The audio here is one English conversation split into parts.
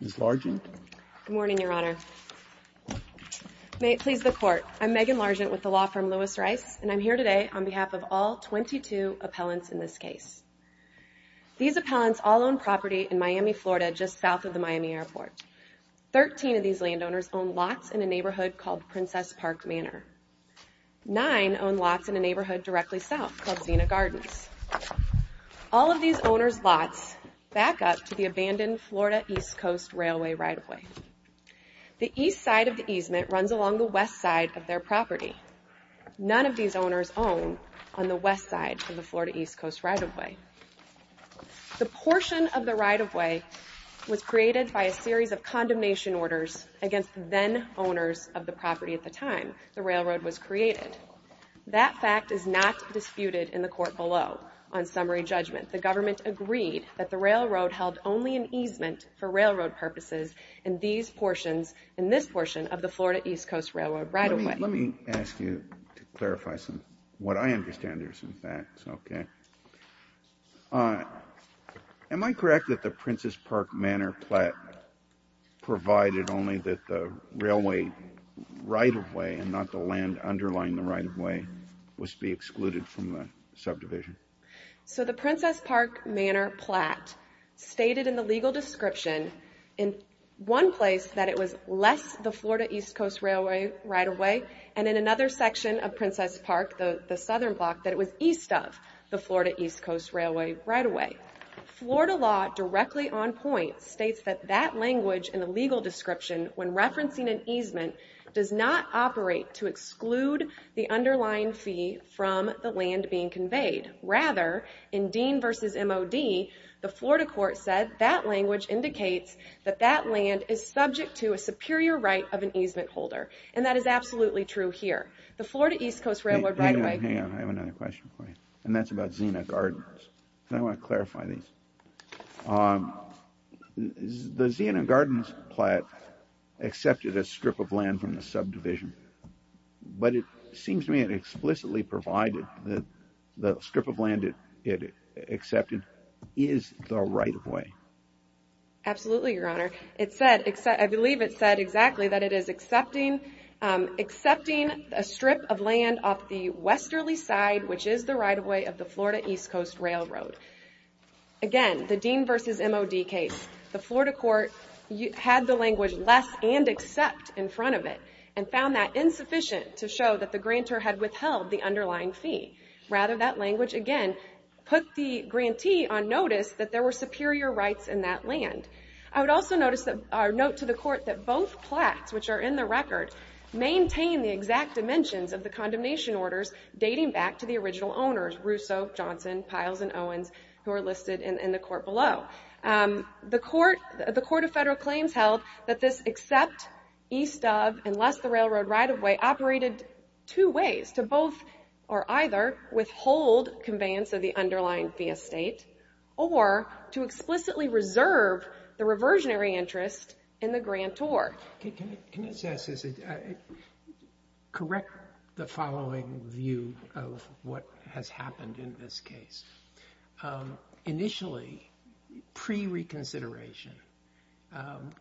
Ms. Largent. Good morning, Your Honor. Please, the Court. I'm Megan Largent with the law firm Lewis Rice, and I'm here today on behalf of all 22 appellants in this case. These appellants all own property in Miami, Florida, just south of the Miami airport. 13 of these landowners own lots in a neighborhood called Princess Park Manor. Nine own lots in a neighborhood directly south called Zena Gardens. All of these owners' lots back up to the abandoned Florida East Coast Railway right-of-way. The east side of the easement runs along the west side of their property. None of these owners own on the west side of the Florida East Coast right-of-way. The portion of the right-of-way was created by a series of condemnation orders against then owners of the property at the time the railroad was created. That fact is not disputed in the court below on summary judgment. The government agreed that the railroad held only an easement for railroad purposes in these portions, in this portion of the Florida East Coast Railroad right-of-way. Let me ask you to clarify some, what I understand are some facts, OK? Am I correct that the Princess Park Manor plat provided only that the railway right-of-way, and not the land underlying the right-of-way, was to be excluded from the subdivision? So the Princess Park Manor plat stated in the legal description in one place that it was less the Florida East Coast Railway right-of-way, and in another section of Princess Park, the southern block, that it was east of the Florida East Coast Railway right-of-way. Florida law directly on point states that that language in the legal description when referencing an easement does not operate to exclude the underlying fee from the land being conveyed. Rather, in Dean versus MOD, the Florida court said that language indicates that that land is subject to a superior right of an easement holder. And that is absolutely true here. The Florida East Coast Railroad right-of-way. Hang on, I have another question for you. And that's about Zena Gardens. And I want to clarify these. The Zena Gardens plat accepted a strip of land from the subdivision, but it seems to me that explicitly provided that the strip of land it accepted is the right-of-way. Absolutely, Your Honor. I believe it said exactly that it is accepting a strip of land off the westerly side, which is the right-of-way of the Florida East Coast Railroad. Again, the Dean versus MOD case. The Florida court had the language less and accept in front of it, and found that insufficient to show that the grantor had withheld the underlying fee. Rather, that language, again, put the grantee on notice that there were superior rights in that land. I would also note to the court that both plats, which are in the record, maintain the exact dimensions of the condemnation orders dating back to the original owners, Russo, Johnson, Piles, and Owens, who are listed in the court below. The court of federal claims held that this except, east of, unless the railroad right-of-way operated two ways, to both or either withhold conveyance of the underlying fee estate, or to explicitly reserve the reversionary interest in the grantor. Can I say this? Correct the following view of what has happened in this case. Initially, pre-reconsideration,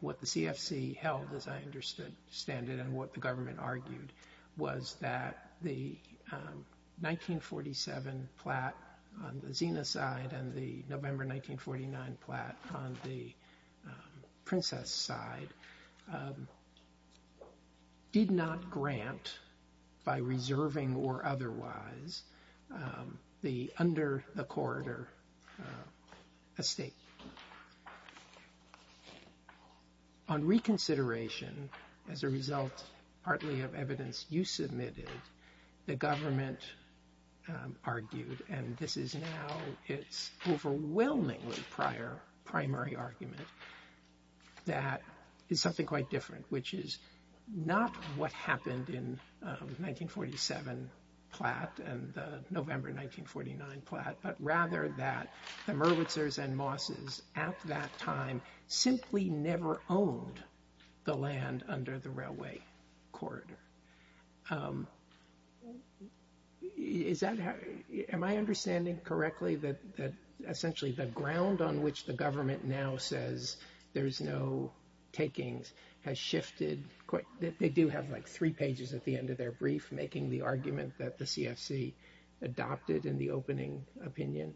what the CFC held, as I understand it, and what the government argued, was that the 1947 plat on the Zena side and the November 1949 plat on the Princess side did not grant, by reserving or otherwise, the under-the-corridor estate. On reconsideration, as a result partly of evidence you submitted, the government argued, and this is now its overwhelmingly prior primary argument, that it's something quite different, which is not what happened in the 1947 plat and the November 1949 plat, but rather that the Merwitzers and Mosses at that time simply never owned the land under the railway corridor. Am I understanding correctly that essentially the ground on which the government now says there is no takings has shifted? They do have like three pages at the end of their brief making the argument that the CFC adopted in the opening opinion.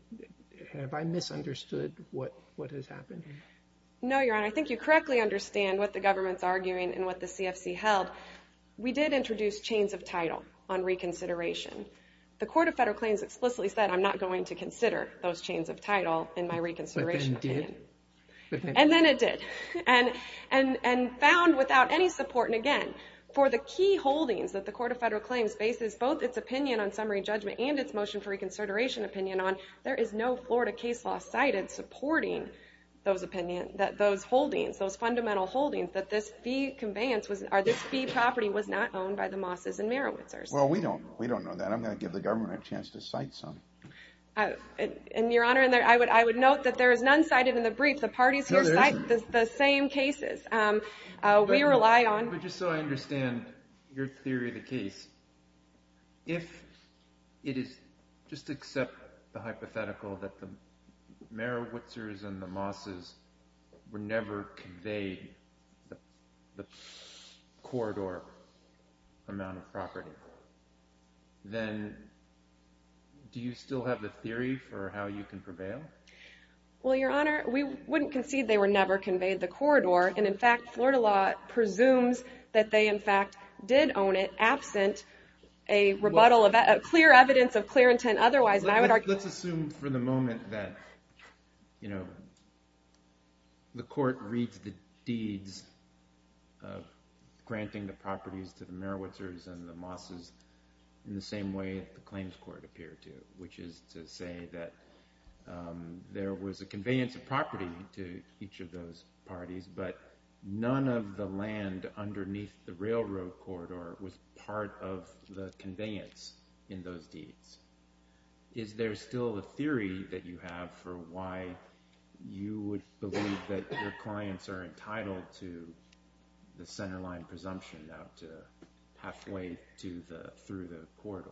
Have I misunderstood what has happened? No, Your Honor, I think you correctly understand what the government's arguing and what the CFC held. We did introduce chains of title on reconsideration. The Court of Federal Claims explicitly said, I'm not going to consider those chains of title in my reconsideration opinion. And then it did, and found without any support, and again, for the key holdings that the Court of Federal Claims bases both its opinion on summary judgment and its motion for reconsideration opinion on, there is no Florida case law cited supporting those holdings, those fundamental holdings, that this fee property was not owned by the Mosses and Merwitzers. Well, we don't know that. I'm going to give the government a chance to cite some. And Your Honor, I would note that there is none cited in the brief. The parties here cite the same cases. We rely on. But just so I understand your theory of the case, if it is, just accept the hypothetical that the Merwitzers and the Mosses were never conveyed the corridor amount of property, then do you still have the theory for how you can prevail? Well, Your Honor, we wouldn't concede they were never conveyed the corridor. And in fact, Florida law presumes that they in fact did own it absent a rebuttal of clear evidence of clear intent otherwise. Let's assume for the moment that the court reads the deeds of granting the properties to the Merwitzers and the Mosses in the same way the claims court appeared to, which is to say that there was a conveyance of property to each of those parties, but none of the land underneath the railroad corridor was part of the conveyance in those deeds. Is there still a theory that you have for why you would believe that your clients are entitled to the centerline presumption now to halfway through the corridor?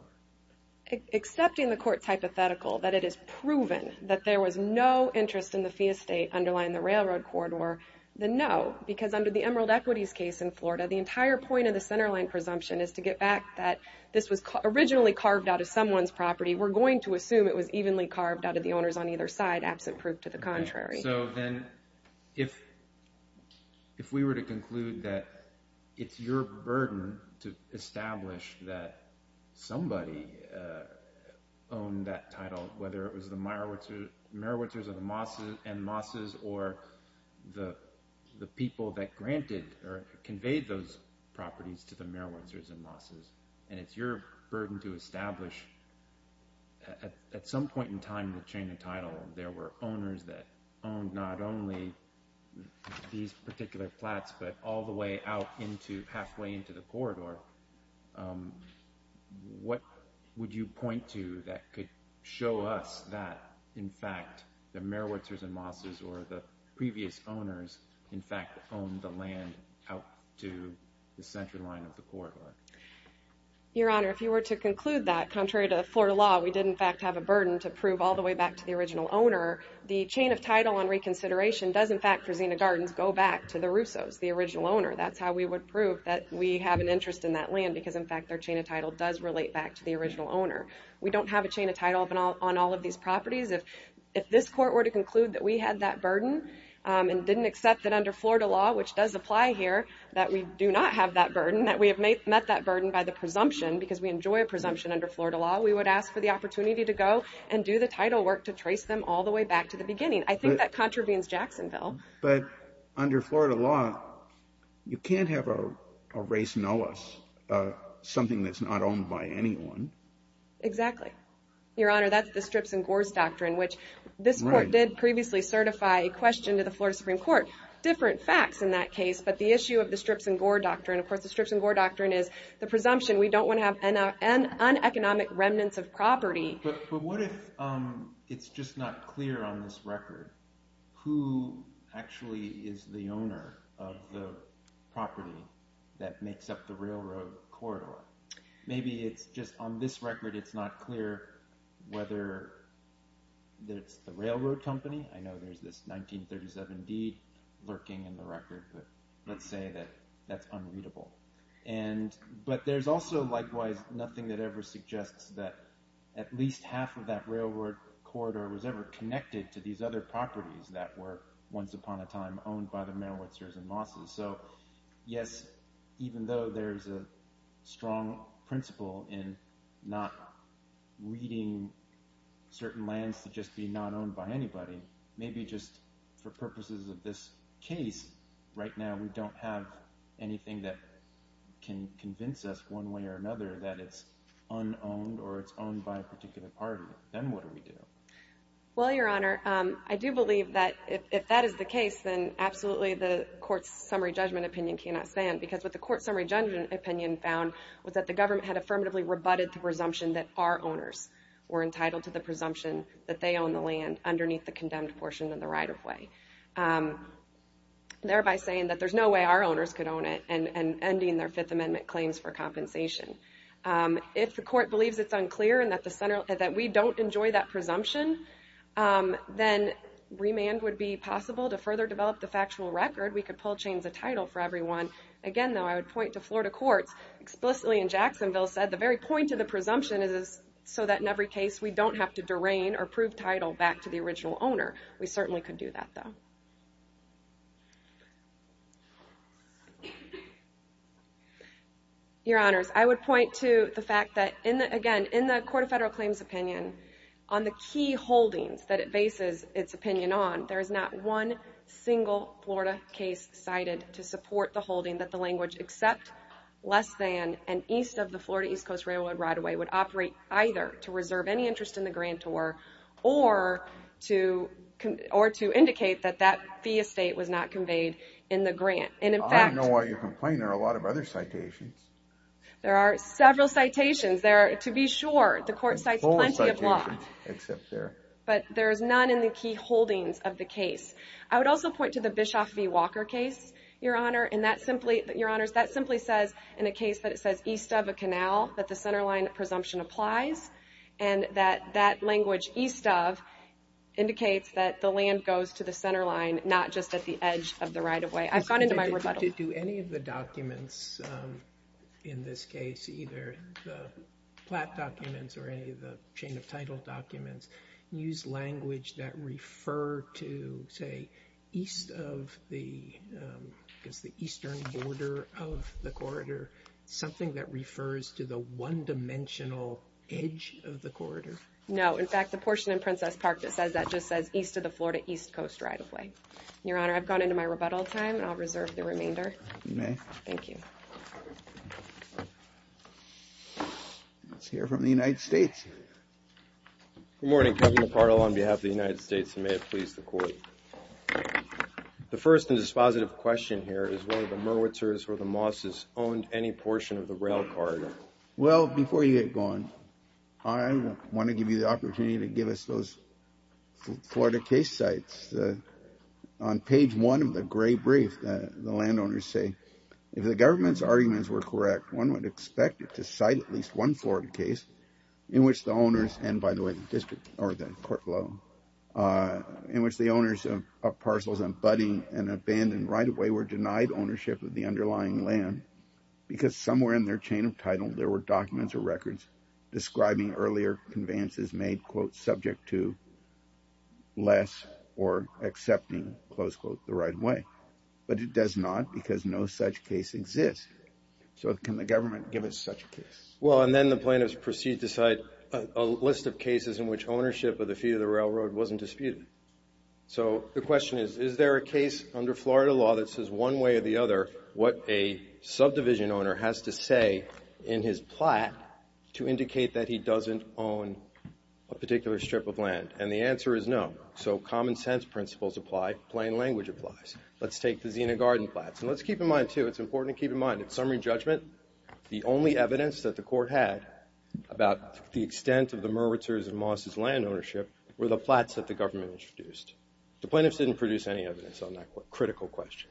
Accepting the court's hypothetical that it is proven that there was no interest in the fee estate underlying the railroad corridor, then no, because under the Emerald Equities case in Florida, the entire point of the centerline presumption is to get back that this was originally carved out of someone's property. We're going to assume it was evenly carved out of the owners on either side absent proof to the contrary. So then if we were to conclude that it's your burden to establish that somebody owned that title, whether it was the Merwitzers and Mosses or the people that granted or conveyed those properties to the Merwitzers and Mosses, and it's your burden to establish at some point in time to change the title, there were owners that owned not only these particular flats but all the way out into halfway into the corridor, what would you point to that could show us that in fact the Merwitzers and Mosses or the previous owners in fact owned the land out to the centerline of the corridor? Your Honor, if you were to conclude that, contrary to Florida law, we did in fact have a burden to prove all the way back to the original owner, the chain of title on reconsideration does in fact for Zena Gardens go back to the Russos, the original owner. That's how we would prove that we have an interest in that land because in fact their chain of title does relate back to the original owner. We don't have a chain of title on all of these properties. If this court were to conclude that we had that burden and didn't accept that under Florida law, which does apply here, that we do not have that burden, that we have met that burden by the presumption because we enjoy a presumption under Florida law, we would ask for the opportunity to go and do the title work to trace them all the way back to the beginning. I think that contravenes Jacksonville. But under Florida law, you can't have a race know us, something that's not owned by anyone. Exactly. Your Honor, that's the Strips and Gores Doctrine, which this court did previously certify a question to the Florida Supreme Court. Different facts in that case, but the issue of the Strips and Gore Doctrine, of course the Strips and Gore Doctrine is the presumption we don't want to have uneconomic remnants of property. But what if it's just not clear on this record who actually is the owner of the property that makes up the railroad corridor? Maybe it's just on this record, it's not clear whether it's the railroad company. I know there's this 1937 deed lurking in the record, but let's say that that's unreadable. But there's also likewise nothing that ever suggests that at least half of that railroad corridor was ever connected to these other properties that were once upon a time owned by the Merowitzers and Mosses. So yes, even though there's a strong principle in not reading certain lands to just be not owned by anybody, maybe just for purposes of this case, right now we don't have anything that can convince us one way or another that it's unowned or it's owned by a particular party. Then what do we do? Well, Your Honor, I do believe that if that is the case, then absolutely the court's summary judgment opinion cannot stand because what the court's summary judgment opinion found was that the government had affirmatively rebutted the presumption that our owners were entitled to the presumption that they own the land underneath the condemned portion of the right-of-way. Thereby saying that there's no way our owners could own it and ending their Fifth Amendment claims for compensation. If the court believes it's unclear and that we don't enjoy that presumption, then remand would be possible to further develop the factual record. We could pull chains of title for everyone. Again, though, I would point to Florida courts. Explicitly in Jacksonville said, the very point of the presumption is so that in every case we don't have to derain or prove title back to the original owner. We certainly could do that, though. Your Honors, I would point to the fact that, again, in the Court of Federal Claims opinion, on the key holdings that it bases its opinion on, there is not one single Florida case cited to support the holding that the language except less than and east of the Florida East Coast Railroad right-of-way would operate either to reserve any interest in the grantor or to indicate that that fee estate was not conveyed in the grant. And in fact- I don't know why you're complaining. There are a lot of other citations. There are several citations. To be sure, the court cites plenty of law. Except there. But there is none in the key holdings of the case. I would also point to the Bischoff v. Walker case, Your Honor, and that simply, Your Honors, that simply says in a case that it says east of a canal that the centerline presumption applies and that that language east of indicates that the land goes to the centerline, not just at the edge of the right-of-way. I've gone into my rebuttal. Do any of the documents in this case either the plat documents or any of the chain-of-title documents use language that refer to, say, east of the, I guess the eastern border of the corridor, something that refers to the one-dimensional edge of the corridor? No, in fact, the portion in Princess Park that says that just says east of the Florida East Coast right-of-way. Your Honor, I've gone into my rebuttal time and I'll reserve the remainder. You may. Thank you. Let's hear from the United States. Good morning, Governor Parl, on behalf of the United States, and may it please the Court. The first and dispositive question here is whether the Merwitzers or the Mosses owned any portion of the rail corridor. Well, before you get going, I want to give you the opportunity to give us those Florida case sites. On page one of the gray brief, the landowners say, if the government's arguments were correct, one would expect it to cite at least one Florida case in which the owners, and by the way, the district or the court below, in which the owners of parcels and budding and abandoned right-of-way were denied ownership of the underlying land because somewhere in their chain of title, there were documents or records describing earlier conveyances made, quote, subject to less or accepting, close quote, the right-of-way. But it does not because no such case exists. So can the government give us such a case? Well, and then the plaintiffs proceed to cite a list of cases in which ownership of the fee of the railroad wasn't disputed. So the question is, is there a case under Florida law that says one way or the other what a subdivision owner has to say in his plat to indicate that he doesn't own a particular strip of land? And the answer is no. So common sense principles apply. Plain language applies. Let's take the Zena Garden Plats. And let's keep in mind, too, it's important to keep in mind, in summary judgment, the only evidence that the court had about the extent of the Merwitzers' and Moss's land ownership were the plats that the government introduced. The plaintiffs didn't produce any evidence on that critical question.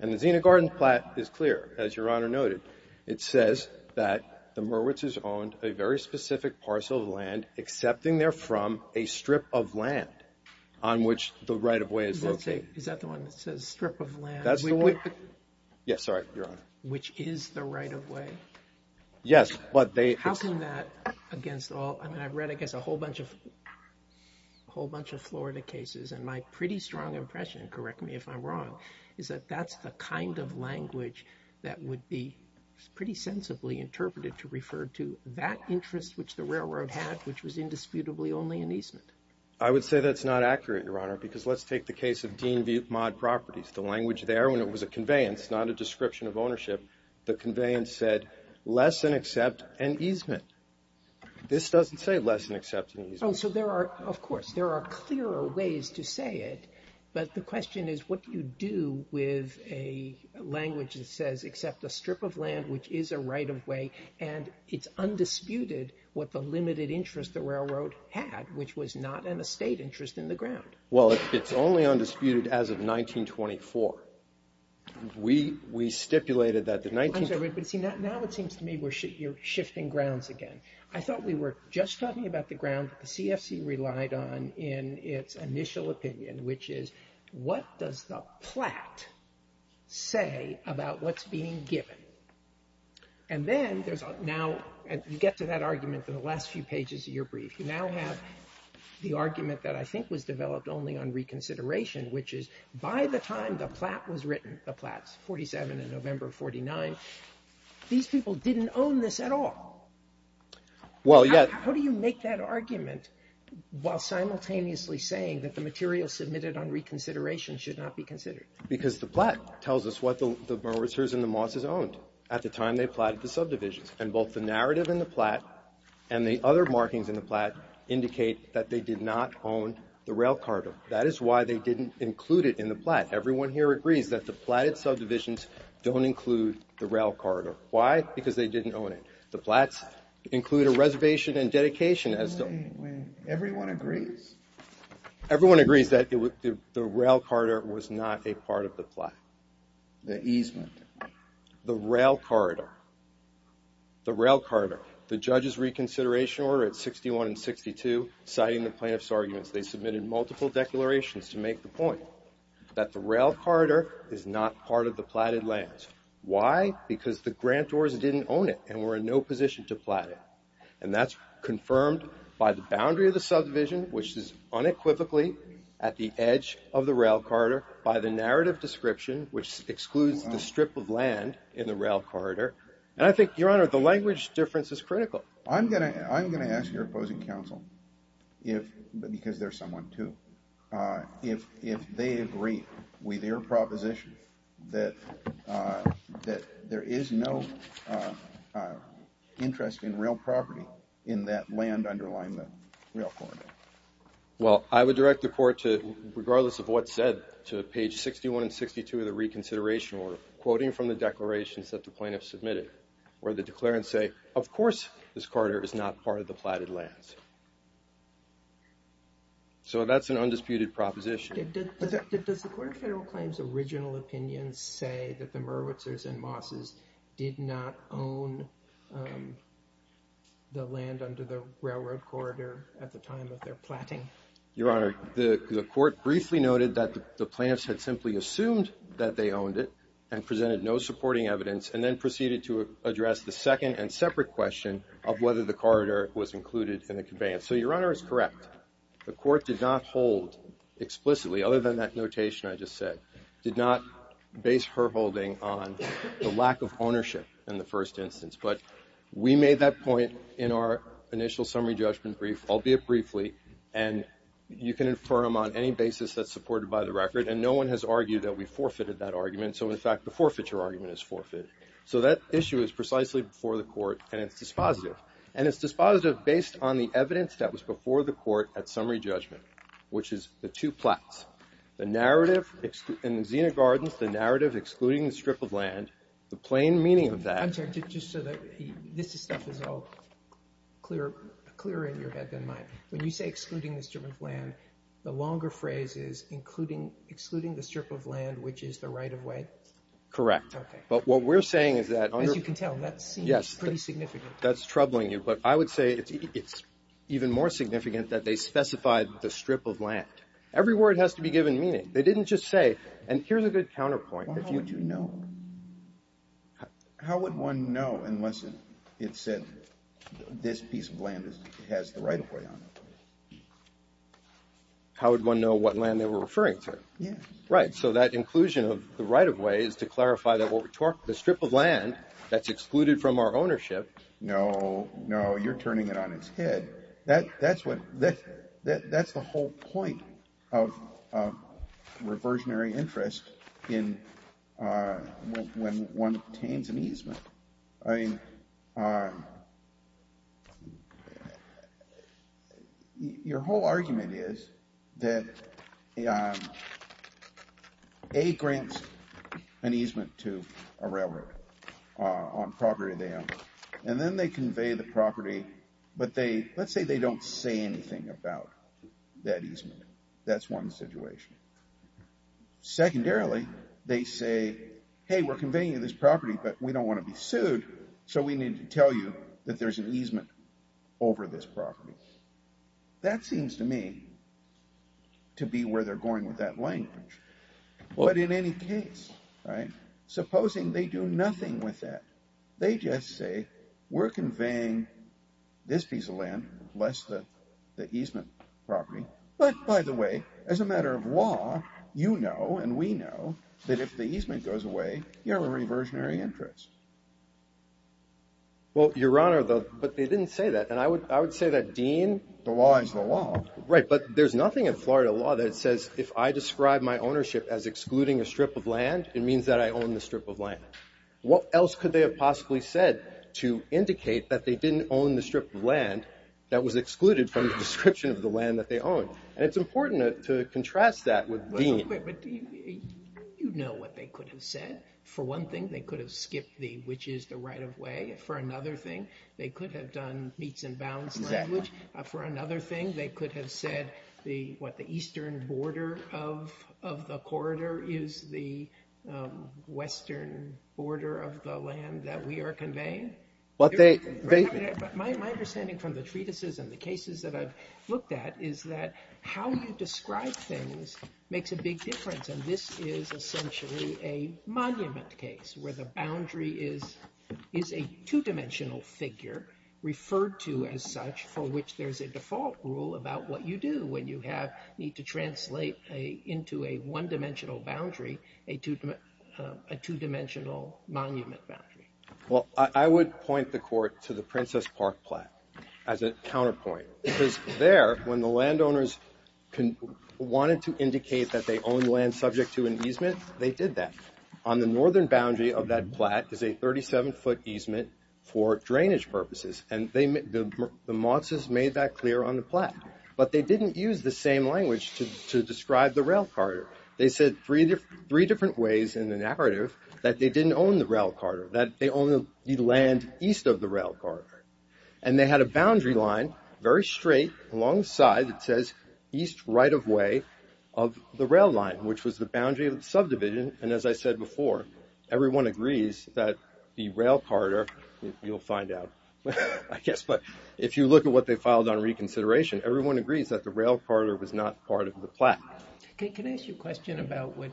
And the Zena Garden Plat is clear, as Your Honor noted. It says that the Merwitzers owned a very specific parcel of land excepting therefrom a strip of land on which the right-of-way is located. Is that the one that says strip of land? That's the one. Yes, sorry, Your Honor. Which is the right-of-way? Yes, but they- How come that against all, I mean, I've read against a whole bunch of, whole bunch of Florida cases, and my pretty strong impression, correct me if I'm wrong, is that that's the kind of language that would be pretty sensibly interpreted to refer to that interest which the railroad had, which was indisputably only an easement? I would say that's not accurate, Your Honor, because let's take the case of Dean-Butte-Mod Properties. The language there, when it was a conveyance, not a description of ownership, the conveyance said less than except an easement. This doesn't say less than except an easement. Oh, so there are, of course, there are clearer ways to say it, but the question is what do you do with a language that says except a strip of land, which is a right-of-way, and it's undisputed what the limited interest the railroad had, which was not an estate interest in the ground? Well, it's only undisputed as of 1924. We stipulated that the 19... I'm sorry, but see, now it seems to me we're shifting grounds again. I thought we were just talking about the ground that the CFC relied on in its initial opinion, which is what does the plat say about what's being given? And then there's now, and you get to that argument in the last few pages of your brief. You now have the argument that I think was developed only on reconsideration, which is by the time the plat was written, the plats, 47 and November of 49, these people didn't own this at all. How do you make that argument while simultaneously saying that the material submitted on reconsideration should not be considered? Because the plat tells us what the Brewers and the Mosses owned at the time they platted the subdivisions, and both the narrative in the plat and the other markings in the plat indicate that they did not own the rail corridor. That is why they didn't include it in the plat. Everyone here agrees that the platted subdivisions don't include the rail corridor. Why? Because they didn't own it. The plats include a reservation and dedication as though. Everyone agrees. Everyone agrees that the rail corridor was not a part of the plat. The easement. The rail corridor. The rail corridor. The judge's reconsideration order at 61 and 62, citing the plaintiff's arguments, they submitted multiple declarations to make the point that the rail corridor is not part of the platted lands. Why? Because the grantors didn't own it and were in no position to plat it. And that's confirmed by the boundary of the subdivision, which is unequivocally at the edge of the rail corridor by the narrative description, which excludes the strip of land in the rail corridor. And I think, Your Honor, the language difference is critical. I'm gonna ask your opposing counsel, because they're someone too, if they agree with your proposition that there is no interest in real property in that land underlying the rail corridor. Well, I would direct the court to, regardless of what's said, to page 61 and 62 of the reconsideration order, quoting from the declarations that the plaintiff submitted, where the declarants say, of course this corridor is not part of the platted lands. So that's an undisputed proposition. Does the Court of Federal Claims' original opinion say that the Merwitzers and Mosses did not own the land under the railroad corridor at the time of their platting? Your Honor, the court briefly noted that the plaintiffs had simply assumed that they owned it and presented no supporting evidence, and then proceeded to address the second and separate question of whether the corridor was included in the conveyance. So Your Honor is correct. The court did not hold explicitly, other than that notation I just said, did not base her holding on the lack of ownership in the first instance. But we made that point in our initial summary judgment brief, albeit briefly, and you can infirm on any basis that's supported by the record, and no one has argued that we forfeited that argument. So in fact, the forfeiture argument is forfeited. So that issue is precisely before the court, and it's dispositive. And it's dispositive based on the evidence that was before the court at summary judgment, which is the two plats. The narrative in the Xena Gardens, the narrative excluding the strip of land, the plain meaning of that. I'm sorry, just so that this stuff is all clearer in your head than mine. When you say excluding the strip of land, the longer phrase is excluding the strip of land, which is the right-of-way? Correct. But what we're saying is that. As you can tell, that seems pretty significant. That's troubling you, but I would say it's even more significant that they specified the strip of land. Every word has to be given meaning. They didn't just say, and here's a good counterpoint. How would you know? How would one know unless it said, this piece of land has the right-of-way on it? How would one know what land they were referring to? Yeah. Right, so that inclusion of the right-of-way is to clarify that the strip of land that's excluded from our ownership. No, no, you're turning it on its head. That's the whole point of reversionary interest in when one obtains an easement. Your whole argument is that A grants an easement to a railroad on property they own, and then they convey the property, but let's say they don't say anything about that easement. That's one situation. Secondarily, they say, hey, we're conveying you this property, but we don't want to be sued, so we need to tell you that there's an easement over this property. That seems to me to be where they're going with that language. But in any case, supposing they do nothing with that, they just say, we're conveying this piece of land, less the easement property. But by the way, as a matter of law, you know and we know that if the easement goes away, you have a reversionary interest. Well, Your Honor, but they didn't say that, and I would say that Dean. The law is the law. Right, but there's nothing in Florida law that says if I describe my ownership as excluding a strip of land, it means that I own the strip of land. What else could they have possibly said to indicate that they didn't own the strip of land that was excluded from the description of the land that they own? And it's important to contrast that with Dean. But you know what they could have said. For one thing, they could have skipped the which is the right of way. For another thing, they could have done meets and bounds language. For another thing, they could have said what the eastern border of the corridor is the western border of the land that we are conveying. My understanding from the treatises and the cases that I've looked at is that how you describe things makes a big difference. And this is essentially a monument case where the boundary is a two-dimensional figure referred to as such for which there's a default rule about what you do when you need to translate into a one-dimensional boundary, a two-dimensional monument boundary. Well, I would point the court to the Princess Park Platte as a counterpoint because there, when the landowners wanted to indicate that they owned land subject to an easement, they did that. On the northern boundary of that platte is a 37-foot easement for drainage purposes. And the Mozes made that clear on the platte. But they didn't use the same language to describe the rail corridor. They said three different ways in the narrative that they didn't own the rail corridor, that they owned the land east of the rail corridor. And they had a boundary line, very straight, alongside that says east right of way of the rail line, which was the boundary of the subdivision. And as I said before, everyone agrees that the rail corridor, you'll find out, I guess, but if you look at what they filed on reconsideration, everyone agrees that the rail corridor was not part of the platte. Can I ask you a question about what,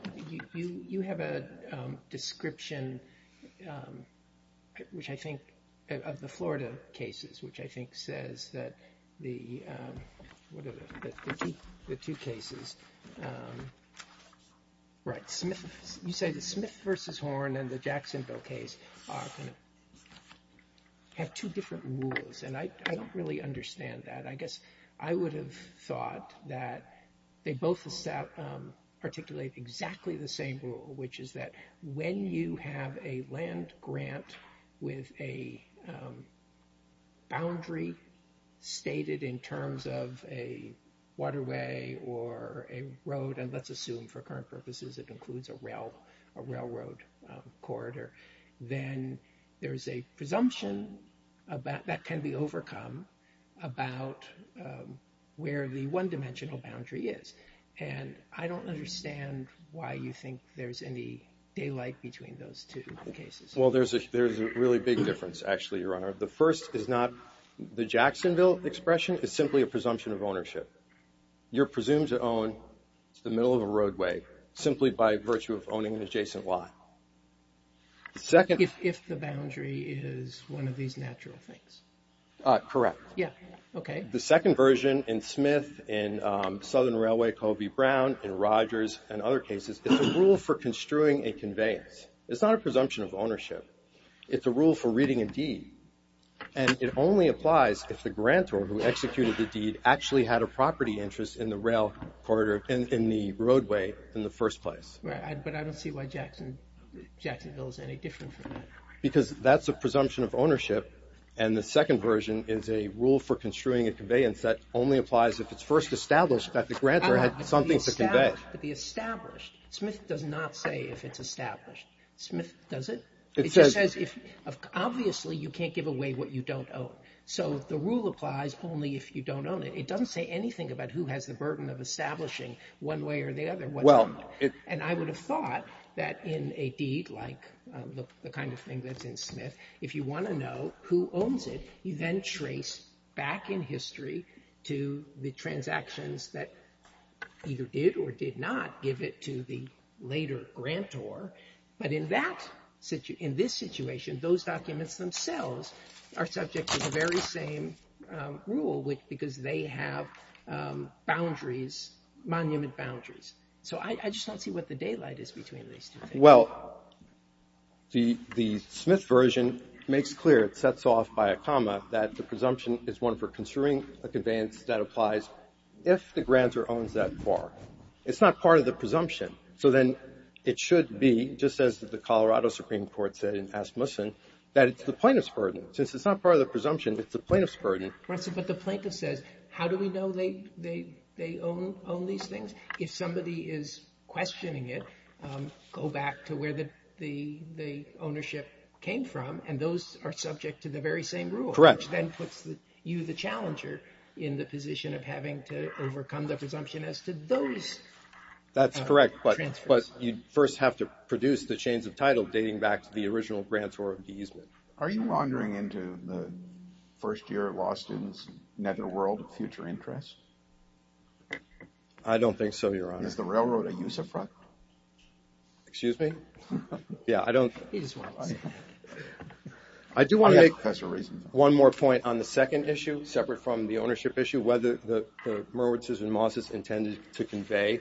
you have a description, which I think, of the Florida cases, which I think says that the, the two cases, right, Smith, you say the Smith v. Horn and the Jacksonville case have two different rules. And I don't really understand that. I guess I would have thought that they both articulate exactly the same rule, which is that when you have a land grant with a boundary stated in terms of a waterway or a road, and let's assume for current purposes it includes a railroad corridor, then there's a presumption that can be overcome about where the one-dimensional boundary is. And I don't understand why you think there's any daylight between those two cases. Well, there's a really big difference, actually, Your Honor. The first is not the Jacksonville expression, it's simply a presumption of ownership. You're presumed to own the middle of a roadway, simply by virtue of owning an adjacent lot. The second- If the boundary is one of these natural things. Correct. Yeah, okay. The second version in Smith, in Southern Railway, Covey Brown, in Rogers, and other cases, it's a rule for construing a conveyance. It's not a presumption of ownership. It's a rule for reading a deed. And it only applies if the grantor who executed the deed actually had a property interest in the rail corridor, in the roadway, in the first place. Right, but I don't see why Jacksonville is any different from that. Because that's a presumption of ownership, and the second version is a rule for construing a conveyance that only applies if it's first established that the grantor had something to convey. To be established. Smith does not say if it's established. Smith doesn't. It just says, obviously, you can't give away what you don't own. So the rule applies only if you don't own it. It doesn't say anything about who has the burden of establishing one way or the other. And I would have thought that in a deed like the kind of thing that's in Smith, if you want to know who owns it, you then trace back in history to the transactions that either did or did not give it to the later grantor. But in this situation, those documents themselves are subject to the very same rule, because they have boundaries, monument boundaries. So I just don't see what the daylight is between these two things. Well, the Smith version makes clear, it sets off by a comma, that the presumption is one for construing a conveyance that applies if the grantor owns that car. It's not part of the presumption. So then it should be, just as the Colorado Supreme Court said in Asmussen, that it's the plaintiff's burden. Since it's not part of the presumption, it's the plaintiff's burden. But the plaintiff says, how do we know they own these things? If somebody is questioning it, go back to where the ownership came from, and those are subject to the very same rule. Correct. Which then puts you, the challenger, in the position of having to overcome the presumption as to those transfers. That's correct, but you first have to produce the chains of title dating back to the original grantor of the Eastman. Are you wandering into the first year law student's netherworld of future interest? I don't think so, Your Honor. Is the railroad a use of fraud? Excuse me? Yeah, I don't. I do want to make one more point on the second issue, separate from the ownership issue, whether the Merwits and Mosses intended to convey.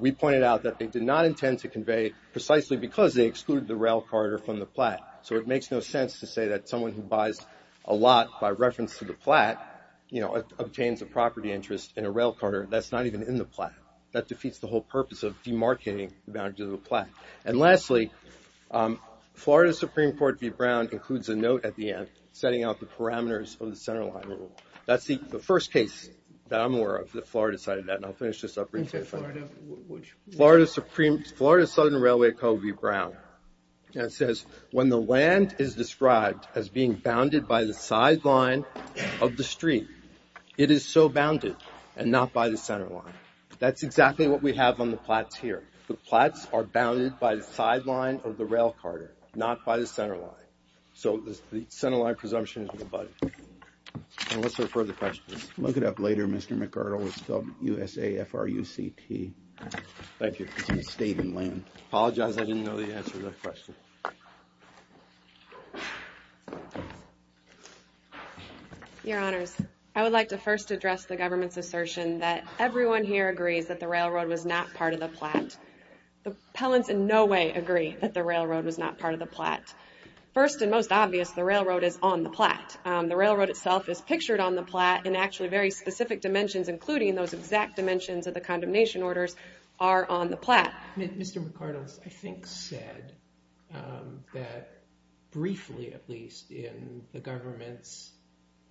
We pointed out that they did not intend to convey precisely because they excluded the rail corridor from the plat. So it makes no sense to say that someone who buys a lot by reference to the plat, you know, obtains a property interest in a rail corridor that's not even in the plat. That defeats the whole purpose of demarcating the boundaries of the plat. And lastly, Florida Supreme Court v. Brown includes a note at the end, setting out the parameters of the centerline rule. That's the first case that I'm aware of that Florida cited that, and I'll finish this up real quick. Okay, Florida, which? Florida Supreme, Florida Southern Railway Code v. Brown. And it says, when the land is described as being bounded by the sideline of the street, it is so bounded, and not by the centerline. That's exactly what we have on the plats here. The plats are bounded by the sideline of the rail corridor, not by the centerline. So the centerline presumption is abutted. And what's our further questions? Look it up later, Mr. McArdle. It's called USAFRUCT. Thank you. State and land. Apologize, I didn't know the answer to that question. Your honors, I would like to first address the government's assertion that everyone here agrees that the railroad was not part of the plat. The appellants in no way agree that the railroad was not part of the plat. First and most obvious, the railroad is on the plat. The railroad itself is pictured on the plat, and actually very specific dimensions, including those exact dimensions of the condemnation orders, are on the plat. Mr. McArdle, I think, said that briefly, at least, in the government's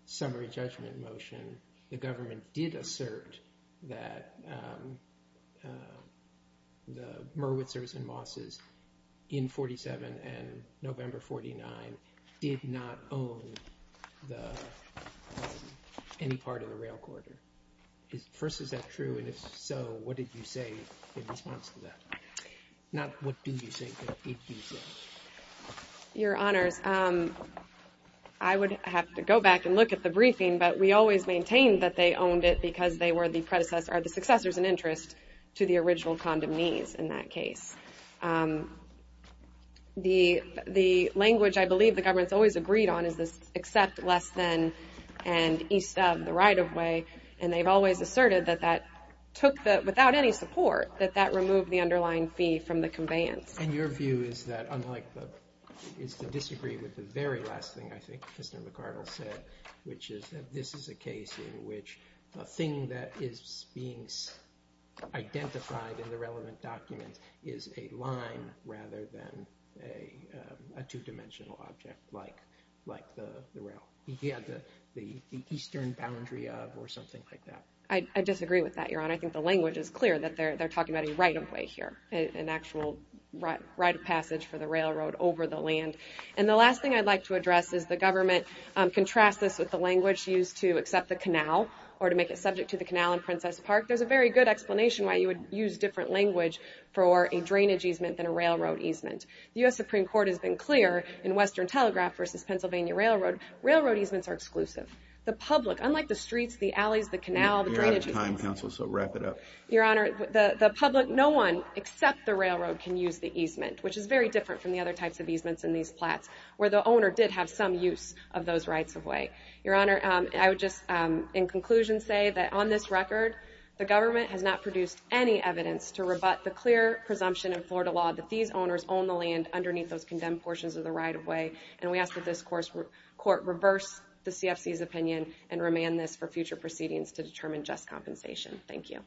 summary judgment motion, the government did assert that the Merwitzers and Mosses in 47 and November 49 did not own any part of the rail corridor. First, is that true? And if so, what did you say in response to that? Not what did you say, but did you say? Your honors, I would have to go back and look at the briefing, but we always maintain that they owned it because they were the predecessors, or the successors in interest, to the original condemnees in that case. The language I believe the government's always agreed on is this accept less than, and east of the right of way, and they've always asserted that that took the, without any support, that that removed the underlying fee from the conveyance. And your view is that, unlike, is to disagree with the very last thing I think Mr. McArdle said, which is that this is a case in which a thing that is being identified in the relevant documents is a line rather than a two-dimensional object like the rail. Yeah, the eastern boundary of, or something like that. I disagree with that, your honor. I think the language is clear, that they're talking about a right of way here, an actual right of passage for the railroad over the land. And the last thing I'd like to address is the government contrasts this with the language used to accept the canal, or to make it subject to the canal in Princess Park. There's a very good explanation why you would use different language for a drainage easement than a railroad easement. The US Supreme Court has been clear in Western Telegraph versus Pennsylvania Railroad, railroad easements are exclusive. The public, unlike the streets, the alleys, the canal, the drainage. You're out of time, counsel, so wrap it up. Your honor, the public, no one except the railroad can use the easement, which is very different from the other types of easements in these plots where the owner did have some use of those rights of way. Your honor, I would just, in conclusion, say that on this record, the government has not produced any evidence to rebut the clear presumption in Florida law that these owners own the land underneath those condemned portions of the right of way. And we ask that this court reverse the CFC's opinion and remand this for future proceedings to determine just compensation. Thank you, counsel.